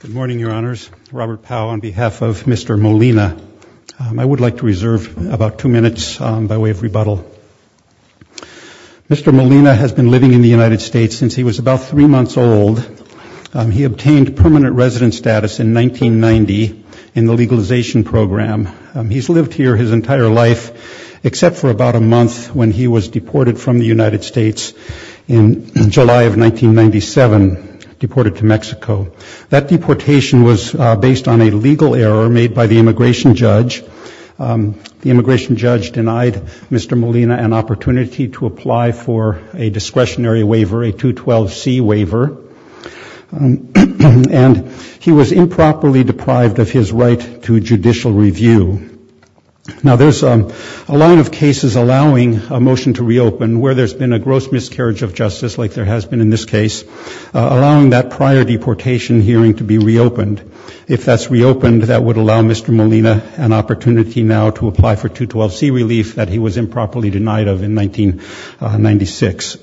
Good morning, Your Honors. Robert Powell on behalf of Mr. Molina. I would like to reserve about two minutes by way of rebuttal. Mr. Molina has been living in the United States since he was about three months old. He obtained permanent residence status in 1990 in the legalization program. He's lived here his entire life except for about a month when he was deported from the United States. That deportation was based on a legal error made by the immigration judge. The immigration judge denied Mr. Molina an opportunity to apply for a discretionary waiver, a 212C waiver, and he was improperly deprived of his right to judicial review. Now there's a line of cases allowing a motion to reopen where there's been a gross miscarriage of justice like there has been in this case, allowing that prior deportation hearing to be reopened. If that's reopened, that would allow Mr. Molina an opportunity now to apply for 212C relief that he was improperly denied of in 1996.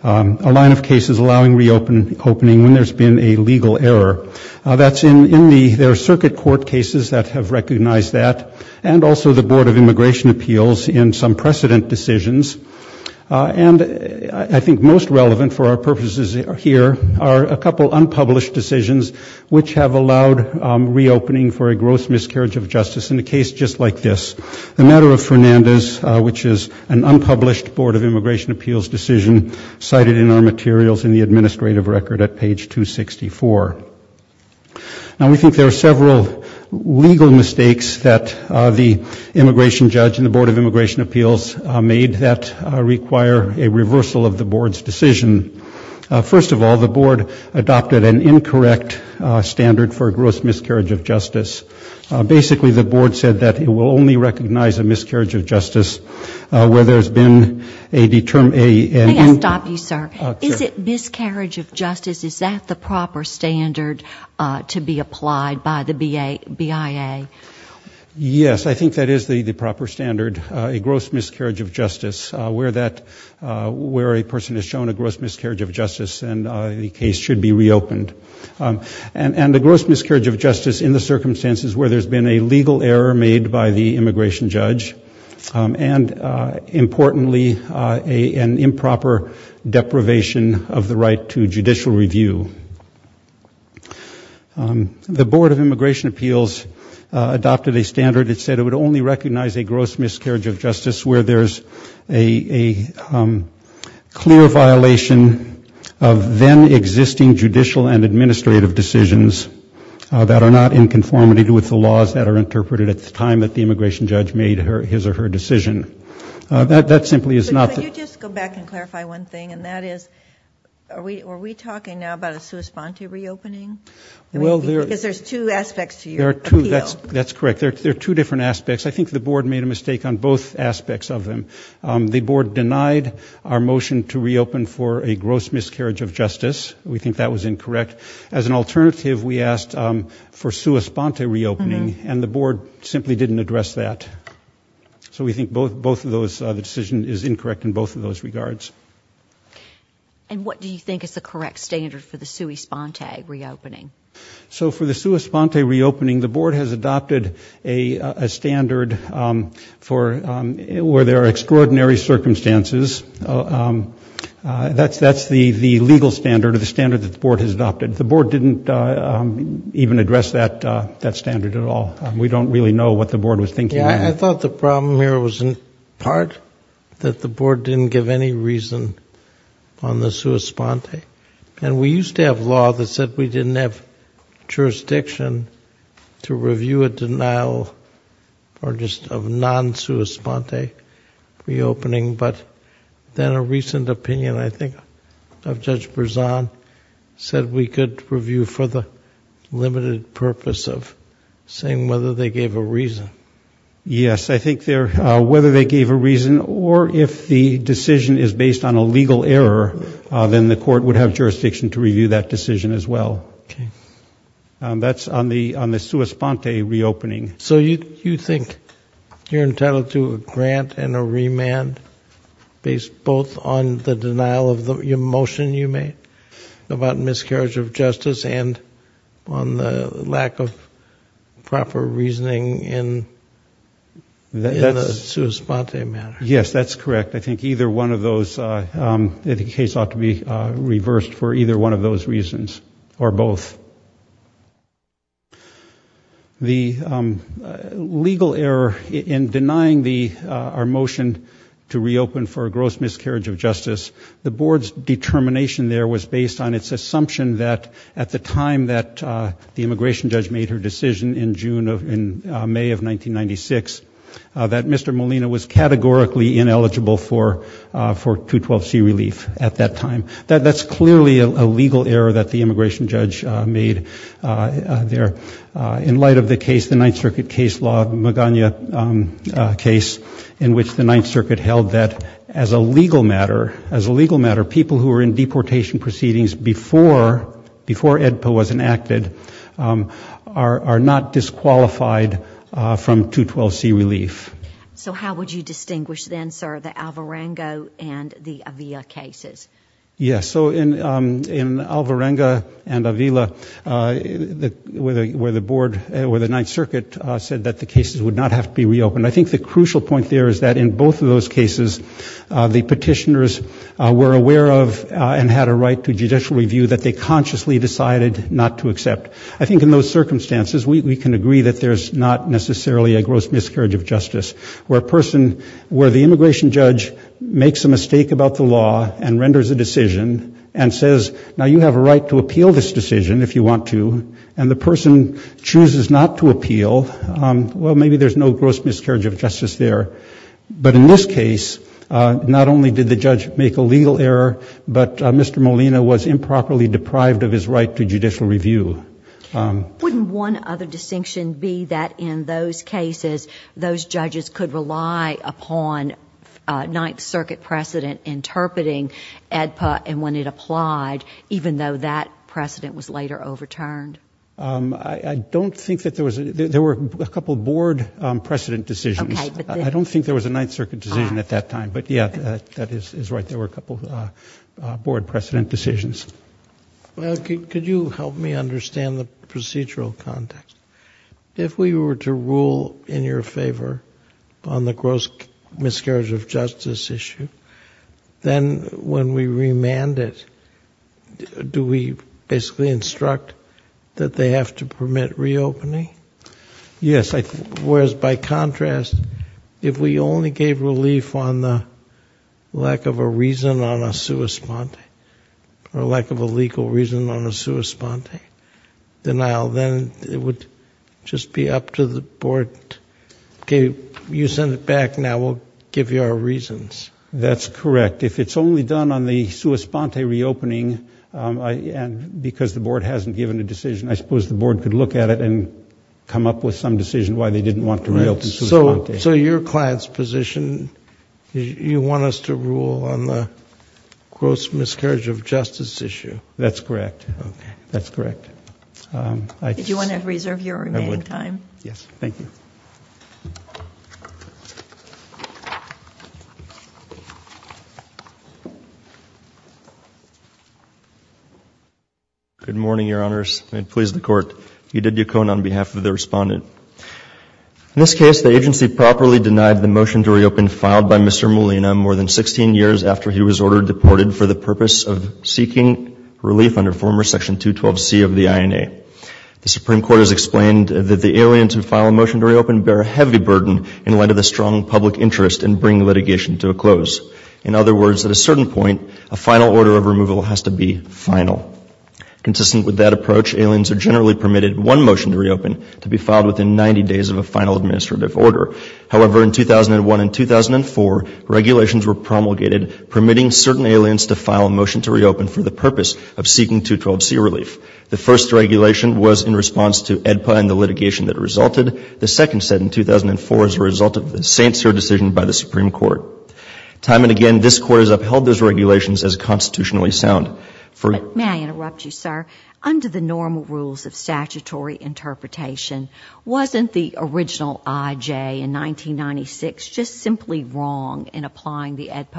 A line of cases allowing reopening when there's been a legal error. That's in the, there are circuit court cases that have recognized that and also the Board of Immigration Appeals in some precedent decisions. And I think most relevant for our purposes here are a couple unpublished decisions which have allowed reopening for a gross miscarriage of justice in a case just like this. The matter of Fernandez, which is an unpublished Board of Immigration Appeals decision cited in our materials in the administrative record at page 264. Now we think there are several legal mistakes that the immigration judge and the Board of Immigration Appeals made that require a reversal of the board's decision. First of all, the board adopted an incorrect standard for a gross miscarriage of justice. Basically the board said that it will only recognize a miscarriage of justice where there's been a determined... May I stop you, sir? Is it miscarriage of justice, is that the Yes, I think that is the the proper standard, a gross miscarriage of justice where that, where a person is shown a gross miscarriage of justice and the case should be reopened. And a gross miscarriage of justice in the circumstances where there's been a legal error made by the immigration judge and importantly an improper deprivation of the right to judicial review. The Board of Immigration Appeals adopted a standard that said it would only recognize a gross miscarriage of justice where there's a clear violation of then existing judicial and administrative decisions that are not in conformity with the laws that are interpreted at the time that the immigration judge made her his or her decision. That simply is not... Could you just go back and clarify one thing and that is, are we talking now about a sui sponte reopening? Well, because there's two aspects to your appeal. That's correct, there are two different aspects. I think the board made a mistake on both aspects of them. The board denied our motion to reopen for a gross miscarriage of justice. We think that was incorrect. As an alternative, we asked for sui sponte reopening and the board simply didn't address that. So we think both of those, the decision is incorrect in both of those regards. And what do you think is the correct standard for the sui sponte reopening? So for the sui sponte reopening, the board has adopted a standard for where there are extraordinary circumstances. That's the legal standard of the standard that the board has adopted. The board didn't even address that that standard at all. We don't really know what the board was thinking. I thought the problem here was in part that the board didn't give any reason on the sui sponte. And we used to have law that said we didn't have jurisdiction to review a denial or just of non sui sponte reopening. But then a recent opinion, I think, of Judge Berzon said we could review for the limited purpose of saying whether they gave a reason or if the decision is based on a legal error, then the court would have jurisdiction to review that decision as well. That's on the sui sponte reopening. So you think you're entitled to a grant and a remand based both on the denial of the motion you made about miscarriage of justice and on the lack of proper reasoning in a sui sponte manner? Yes, that's correct. I think either one of those, the case ought to be reversed for either one of those reasons or both. The legal error in denying our motion to reopen for a gross miscarriage of justice, the board's determination there was based on its assumption that at the time that the immigration judge made her decision in May of 1996, that Mr. Molina was categorically ineligible for 212C relief at that time. That's clearly a legal error that the immigration judge made there. In light of the case, the Ninth Circuit case law, Magana case, in which the Ninth Circuit held that as a legal matter, as a legal matter, people who are in deportation proceedings before EDPO was enacted are not disqualified from 212C relief. So how would you distinguish then, sir, the Alvarengo and the Avila cases? Yes, so in Alvarengo and Avila, where the board, where the Ninth Circuit said that the cases would not have to be reopened, I think the crucial point there is that in both of those cases, the petitioners were aware of and had a right to judicial review that they consciously decided not to accept. I think in those circumstances, we can agree that there's not necessarily a gross miscarriage of justice. Where a person, where the immigration judge makes a mistake about the law and renders a decision and says, now you have a right to appeal this decision if you want to, and the person chooses not to appeal, well, maybe there's no gross miscarriage of justice there. But in this case, not only did the judge make a legal error, but Mr. Molina was improperly deprived of his right to judicial review. Wouldn't one other distinction be that in those cases, those judges could rely upon Ninth Circuit precedent interpreting EDPO and when it applied, even though that precedent was later overturned? I don't think that there was, there were a couple of board precedent decisions. I don't think there was a Ninth Circuit decision at that time, but yeah, that is right, there were a couple of board precedent decisions. Could you help me understand the procedural context? If we were to rule in your favor on the gross miscarriage of justice issue, then when we remand it, do we basically instruct that they have to permit reopening? Yes. Whereas by contrast, if we only gave relief on the lack of a reason on a sua sponte, or lack of a legal reason on a sua sponte denial, then it would just be up to the board. Okay, you send it back now, we'll give you our reasons. That's correct. If it's only done on the sua sponte, and the board hasn't given a decision, I suppose the board could look at it and come up with some decision why they didn't want to reopen sua sponte. So your client's position, you want us to rule on the gross miscarriage of justice issue? That's correct, that's correct. Did you want to reserve your remaining time? Yes, thank you. Good morning, Your Honors. May it please the Court. Edith Yukon on behalf of the Respondent. In this case, the agency properly denied the motion to reopen filed by Mr. Molina more than 16 years after he was ordered deported for the purpose of seeking relief under former Section 212C of the INA. The Supreme Court has explained that the aliens who file a motion to reopen bear a heavy burden in light of the strong public interest in bringing litigation to a close. In other words, at a certain point, a final order of removal has to be final. Consistent with that approach, aliens are generally permitted one motion to reopen to be filed within 90 days of a final administrative order. However, in 2001 and 2004, regulations were promulgated permitting certain aliens to file a motion to reopen for the purpose of seeking relief. The first regulation was in response to AEDPA and the litigation that resulted. The second set in 2004 as a result of the Sancer decision by the Supreme Court. Time and again, this Court has upheld those regulations as constitutionally sound. May I interrupt you, sir? Under the normal rules of statutory interpretation, wasn't the original IJ in 1996 just simply wrong in applying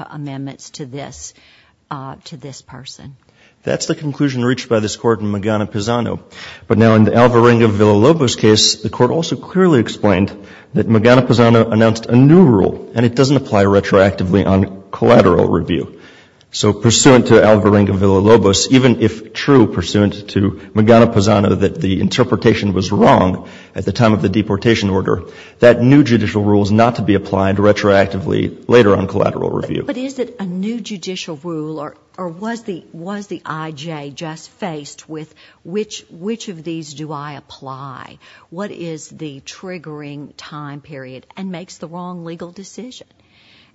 the new judicial rule that the interpretation was wrong at the time of the deportation order? That new judicial rule is not to be applied retroactively later on collateral review. But is it a new judicial rule or was the IJ just faced with which of these do I apply? What is the triggering time period? And makes the wrong legal decision.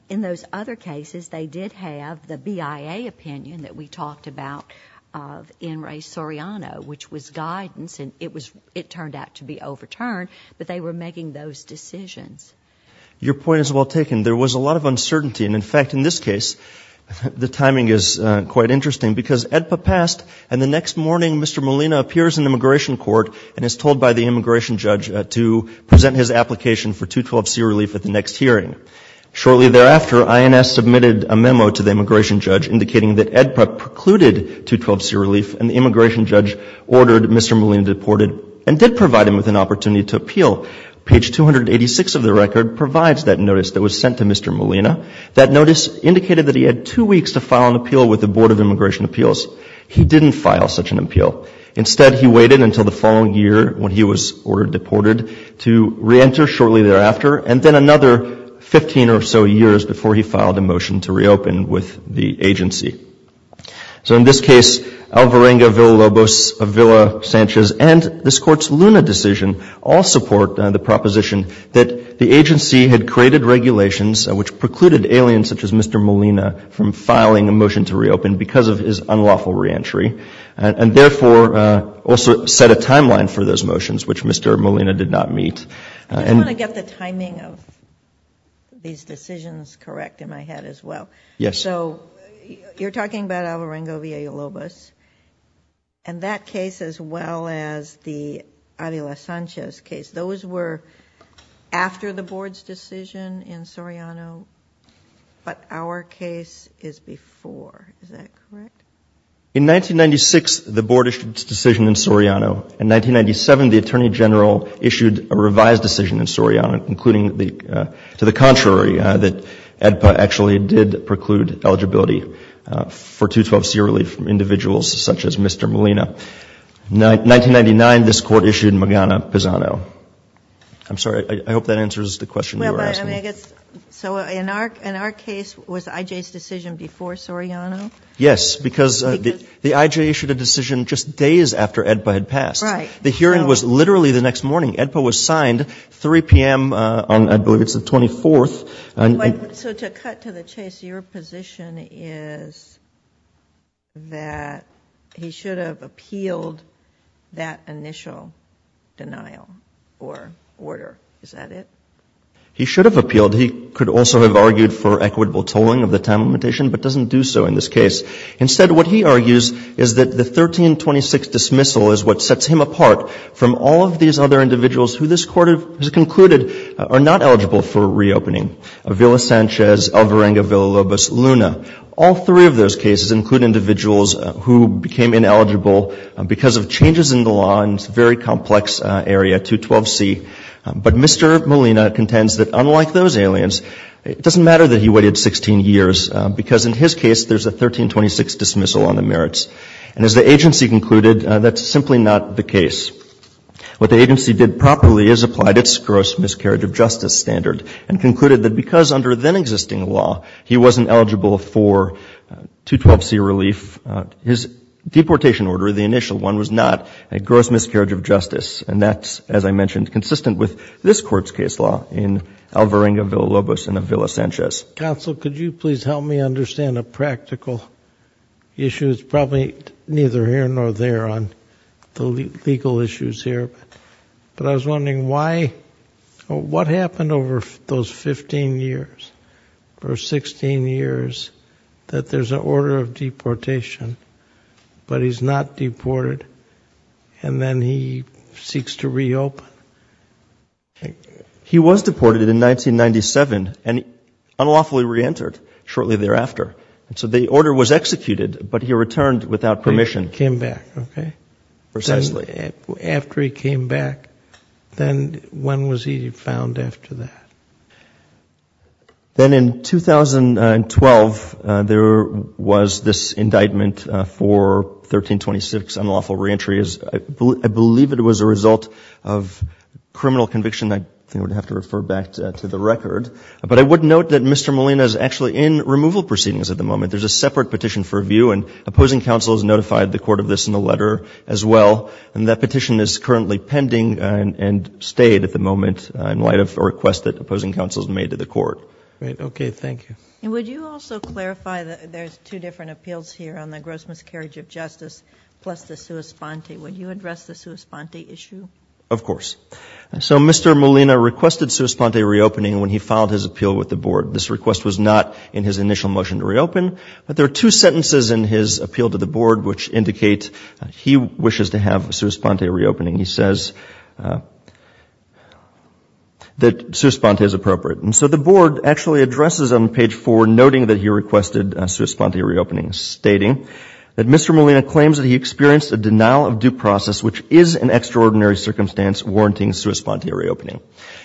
In those other cases, they did have the BIA opinion that we talked about of Enri Soriano, which was guidance and it turned out to be overturned, but they were making those decisions. Your point is well taken. There was a lot of uncertainty and in fact in this case, the timing is quite interesting because AEDPA passed and the next morning Mr. Molina appears in immigration court and is told by the immigration judge to present his application for 212C relief at the next hearing. Shortly thereafter, INS submitted a memo to the immigration judge indicating that AEDPA precluded 212C relief and the immigration judge ordered Mr. Molina deported and did provide him with an opportunity to appeal. Page 286 of the record provides that notice that was sent to Mr. Molina. That notice indicated that he had two weeks to file an appeal with the Board of Immigration Appeals. He didn't file such an appeal. Instead, he waited until the following year when he was ordered deported to reenter shortly thereafter and then another 15 or so years before he filed a motion to reopen with the agency. So in this case, Alvarenga, Villa-Lobos, Villa-Sanchez and this Court's Luna decision all support the proposition that the agency had created regulations which precluded aliens such as Mr. Molina from filing a motion to reopen because of his unlawful reentry and therefore also set a timeline for those motions which Mr. Molina did not meet. I just want to get the timing of these decisions correct in my head as well. Yes. So you're talking about Alvarenga, Villa-Lobos and that case as well as the Villa-Sanchez case. Those were after the Board's decision in Soriano but our case is before. Is that correct? In 1996, the Board issued its decision in Soriano. In 1997, the Attorney General issued a revised decision in Soriano including to the contrary that AEDPA actually did preclude eligibility for 212C relief from individuals such as Mr. Molina. In 1999, this Court issued in Magana-Pisano. I'm sorry. I hope that answers the question you were asking. So in our case, was I.J.'s decision before Soriano? Yes, because the I.J. issued a decision just days after AEDPA had passed. Right. The hearing was literally the next morning. AEDPA was signed 3 p.m. on, I believe it's the 24th. So to cut to the chase, your position is that he should have appealed that initial denial or order. Is that it? He should have appealed. He could also have argued for equitable tolling of the time limitation but doesn't do so in this case. Instead, what he argues is that the 1326 dismissal is what sets him apart from all of these other individuals who this Court has concluded are not eligible for reopening. Villa-Sanchez, Alvarenga-Villalobos, Luna. All three of those cases include individuals who became ineligible because of changes in the law in this very complex area, 212C. But Mr. Molina contends that unlike those aliens, it doesn't matter that he waited 16 years because in his case, there's a 1326 dismissal on the merits. And as the agency concluded, that's simply not the case. What the agency did properly is applied its gross miscarriage of justice standard and concluded that because under then existing law, he wasn't eligible for 212C relief, his deportation order, the initial one, was not a gross miscarriage of justice. And that's, as I mentioned, consistent with this Court's case law in Alvarenga-Villalobos and Villa-Sanchez. Counsel, could you please help me understand a practical issue? It's probably neither here nor there on the legal issues here, but I was wondering why, what happened over those 15 years or 16 years that there's an order of deportation, but he's not deported and then he seeks to reopen? He was deported in 1997 and unlawfully re-entered shortly thereafter. And so the order was executed, but he returned without permission. He came back, okay. Precisely. After he came back, then when was he found after that? Then in 2012, there was this indictment for 1326 unlawful re-entry. I believe it was a result of criminal conviction. I think I would have to refer back to the record. But I would note that Mr. Molina is actually in removal proceedings at the moment. There's a separate petition for review and opposing counsel has notified the court of this in the letter as well. And that petition is currently pending and stayed at the moment in light of a request that opposing counsel has made to the court. Great. Okay. Thank you. Would you also clarify that there's two different appeals here on the gross miscarriage of justice plus the sua sponte? Would you address the sua sponte issue? Of course. So Mr. Molina requested sua sponte reopening when he filed his appeal with the two sentences in his appeal to the board which indicate he wishes to have sua sponte reopening. He says that sua sponte is appropriate. And so the board actually addresses on page four noting that he requested sua sponte reopening stating that Mr. Molina claims that he experienced a denial of due process which is an extraordinary circumstance warranting sua sponte reopening.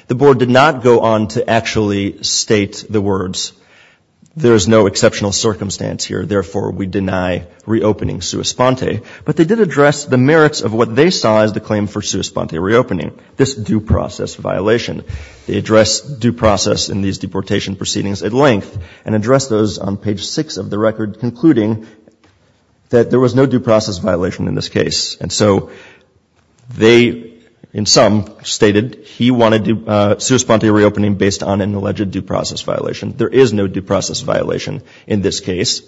The board did not go on to actually state the words. There is no exceptional circumstance here. Therefore, we deny reopening sua sponte. But they did address the merits of what they saw as the claim for sua sponte reopening, this due process violation. They addressed due process in these deportation proceedings at length and addressed those on page six of the record concluding that there was no due process violation in this case. And so they in sum stated he wanted sua sponte reopening based on an alleged due process violation. There is no due process violation in this case.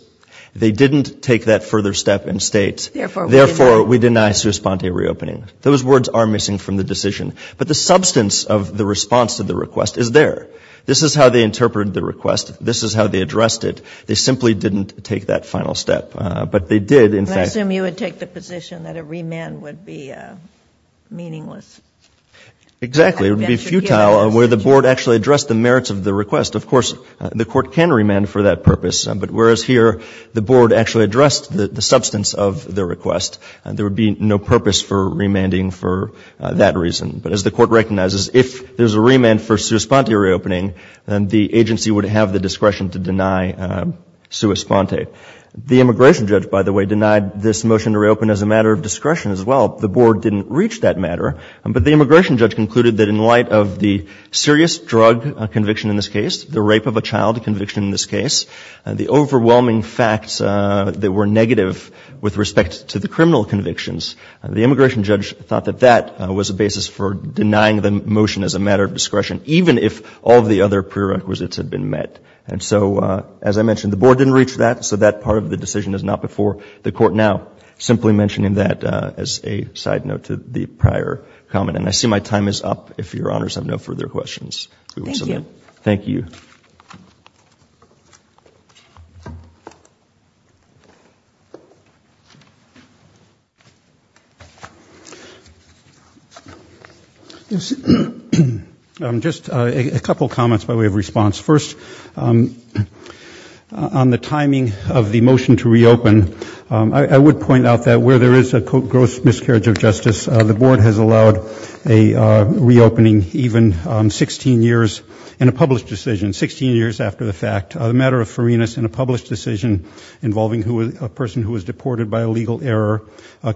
They didn't take that further step and state, therefore, we deny sua sponte reopening. Those words are missing from the decision. But the substance of the response to the request is there. This is how they interpreted the request. This is how they addressed it. They simply didn't take that final step. But they did, in fact. I assume you would take the position that a remand would be meaningless. Exactly. It would be futile where the board actually addressed the merits of the request. Of course, the court can remand for that purpose. But whereas here the board actually addressed the substance of the request, there would be no purpose for remanding for that reason. But as the court recognizes, if there's a remand for sua sponte reopening, then the agency would have the discretion to deny sua sponte. The immigration judge, by the way, denied this motion to reopen as a matter of discretion as well. The board didn't reach that matter. But the immigration judge concluded that in the rape of a child conviction in this case, the overwhelming facts that were negative with respect to the criminal convictions, the immigration judge thought that that was a basis for denying the motion as a matter of discretion, even if all of the other prerequisites had been met. And so, as I mentioned, the board didn't reach that. So that part of the decision is not before the court now. Simply mentioning that as a side note to the prior comment. And I see my time is up. If Your Honors have no further questions, we will submit. Thank you. Thank you. Just a couple of comments by way of response. First, on the timing of the motion to reopen, I would point out that where there is a gross miscarriage of justice, the board has allowed reopening even 16 years in a published decision, 16 years after the fact. The matter of Ferenas in a published decision involving a person who was deported by illegal error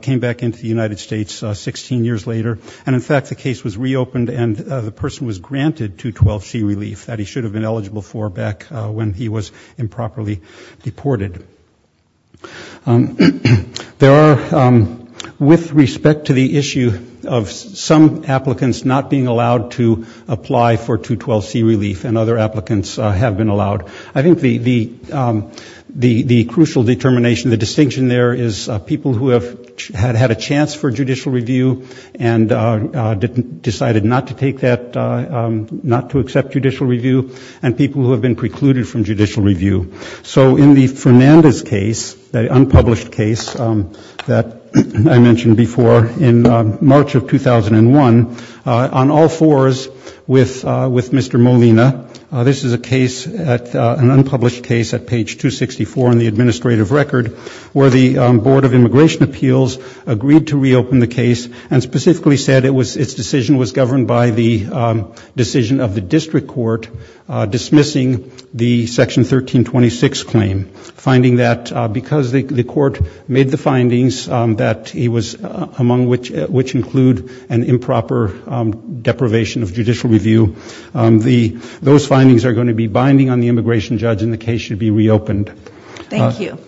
came back into the United States 16 years later. And in fact, the case was reopened and the person was granted 212C relief that he should have been eligible for back when he was improperly deported. There are, with respect to the issue of some applicants not being allowed to apply for 212C relief, and other applicants have been allowed, I think the crucial determination, the distinction there is people who have had a chance for judicial review and decided not to take that, not to accept judicial review, and people who have been precluded from judicial review. So in the Fernandez case, the unpublished case that I mentioned before in March of 2001, on all fours with Mr. Molina, this is a case, an unpublished case at page 264 in the administrative record where the Board of Immigration Appeals agreed to reopen the case and specifically said its decision was governed by the decision of the district court dismissing the Section 1326 claim, finding that because the court made the findings that he was among which include an improper deprivation of judicial review, those findings are going to be binding on the immigration judge and the case should be reopened. Thank you.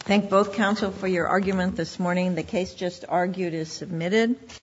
Thank both counsel for your argument this morning. The case just argued is submitted.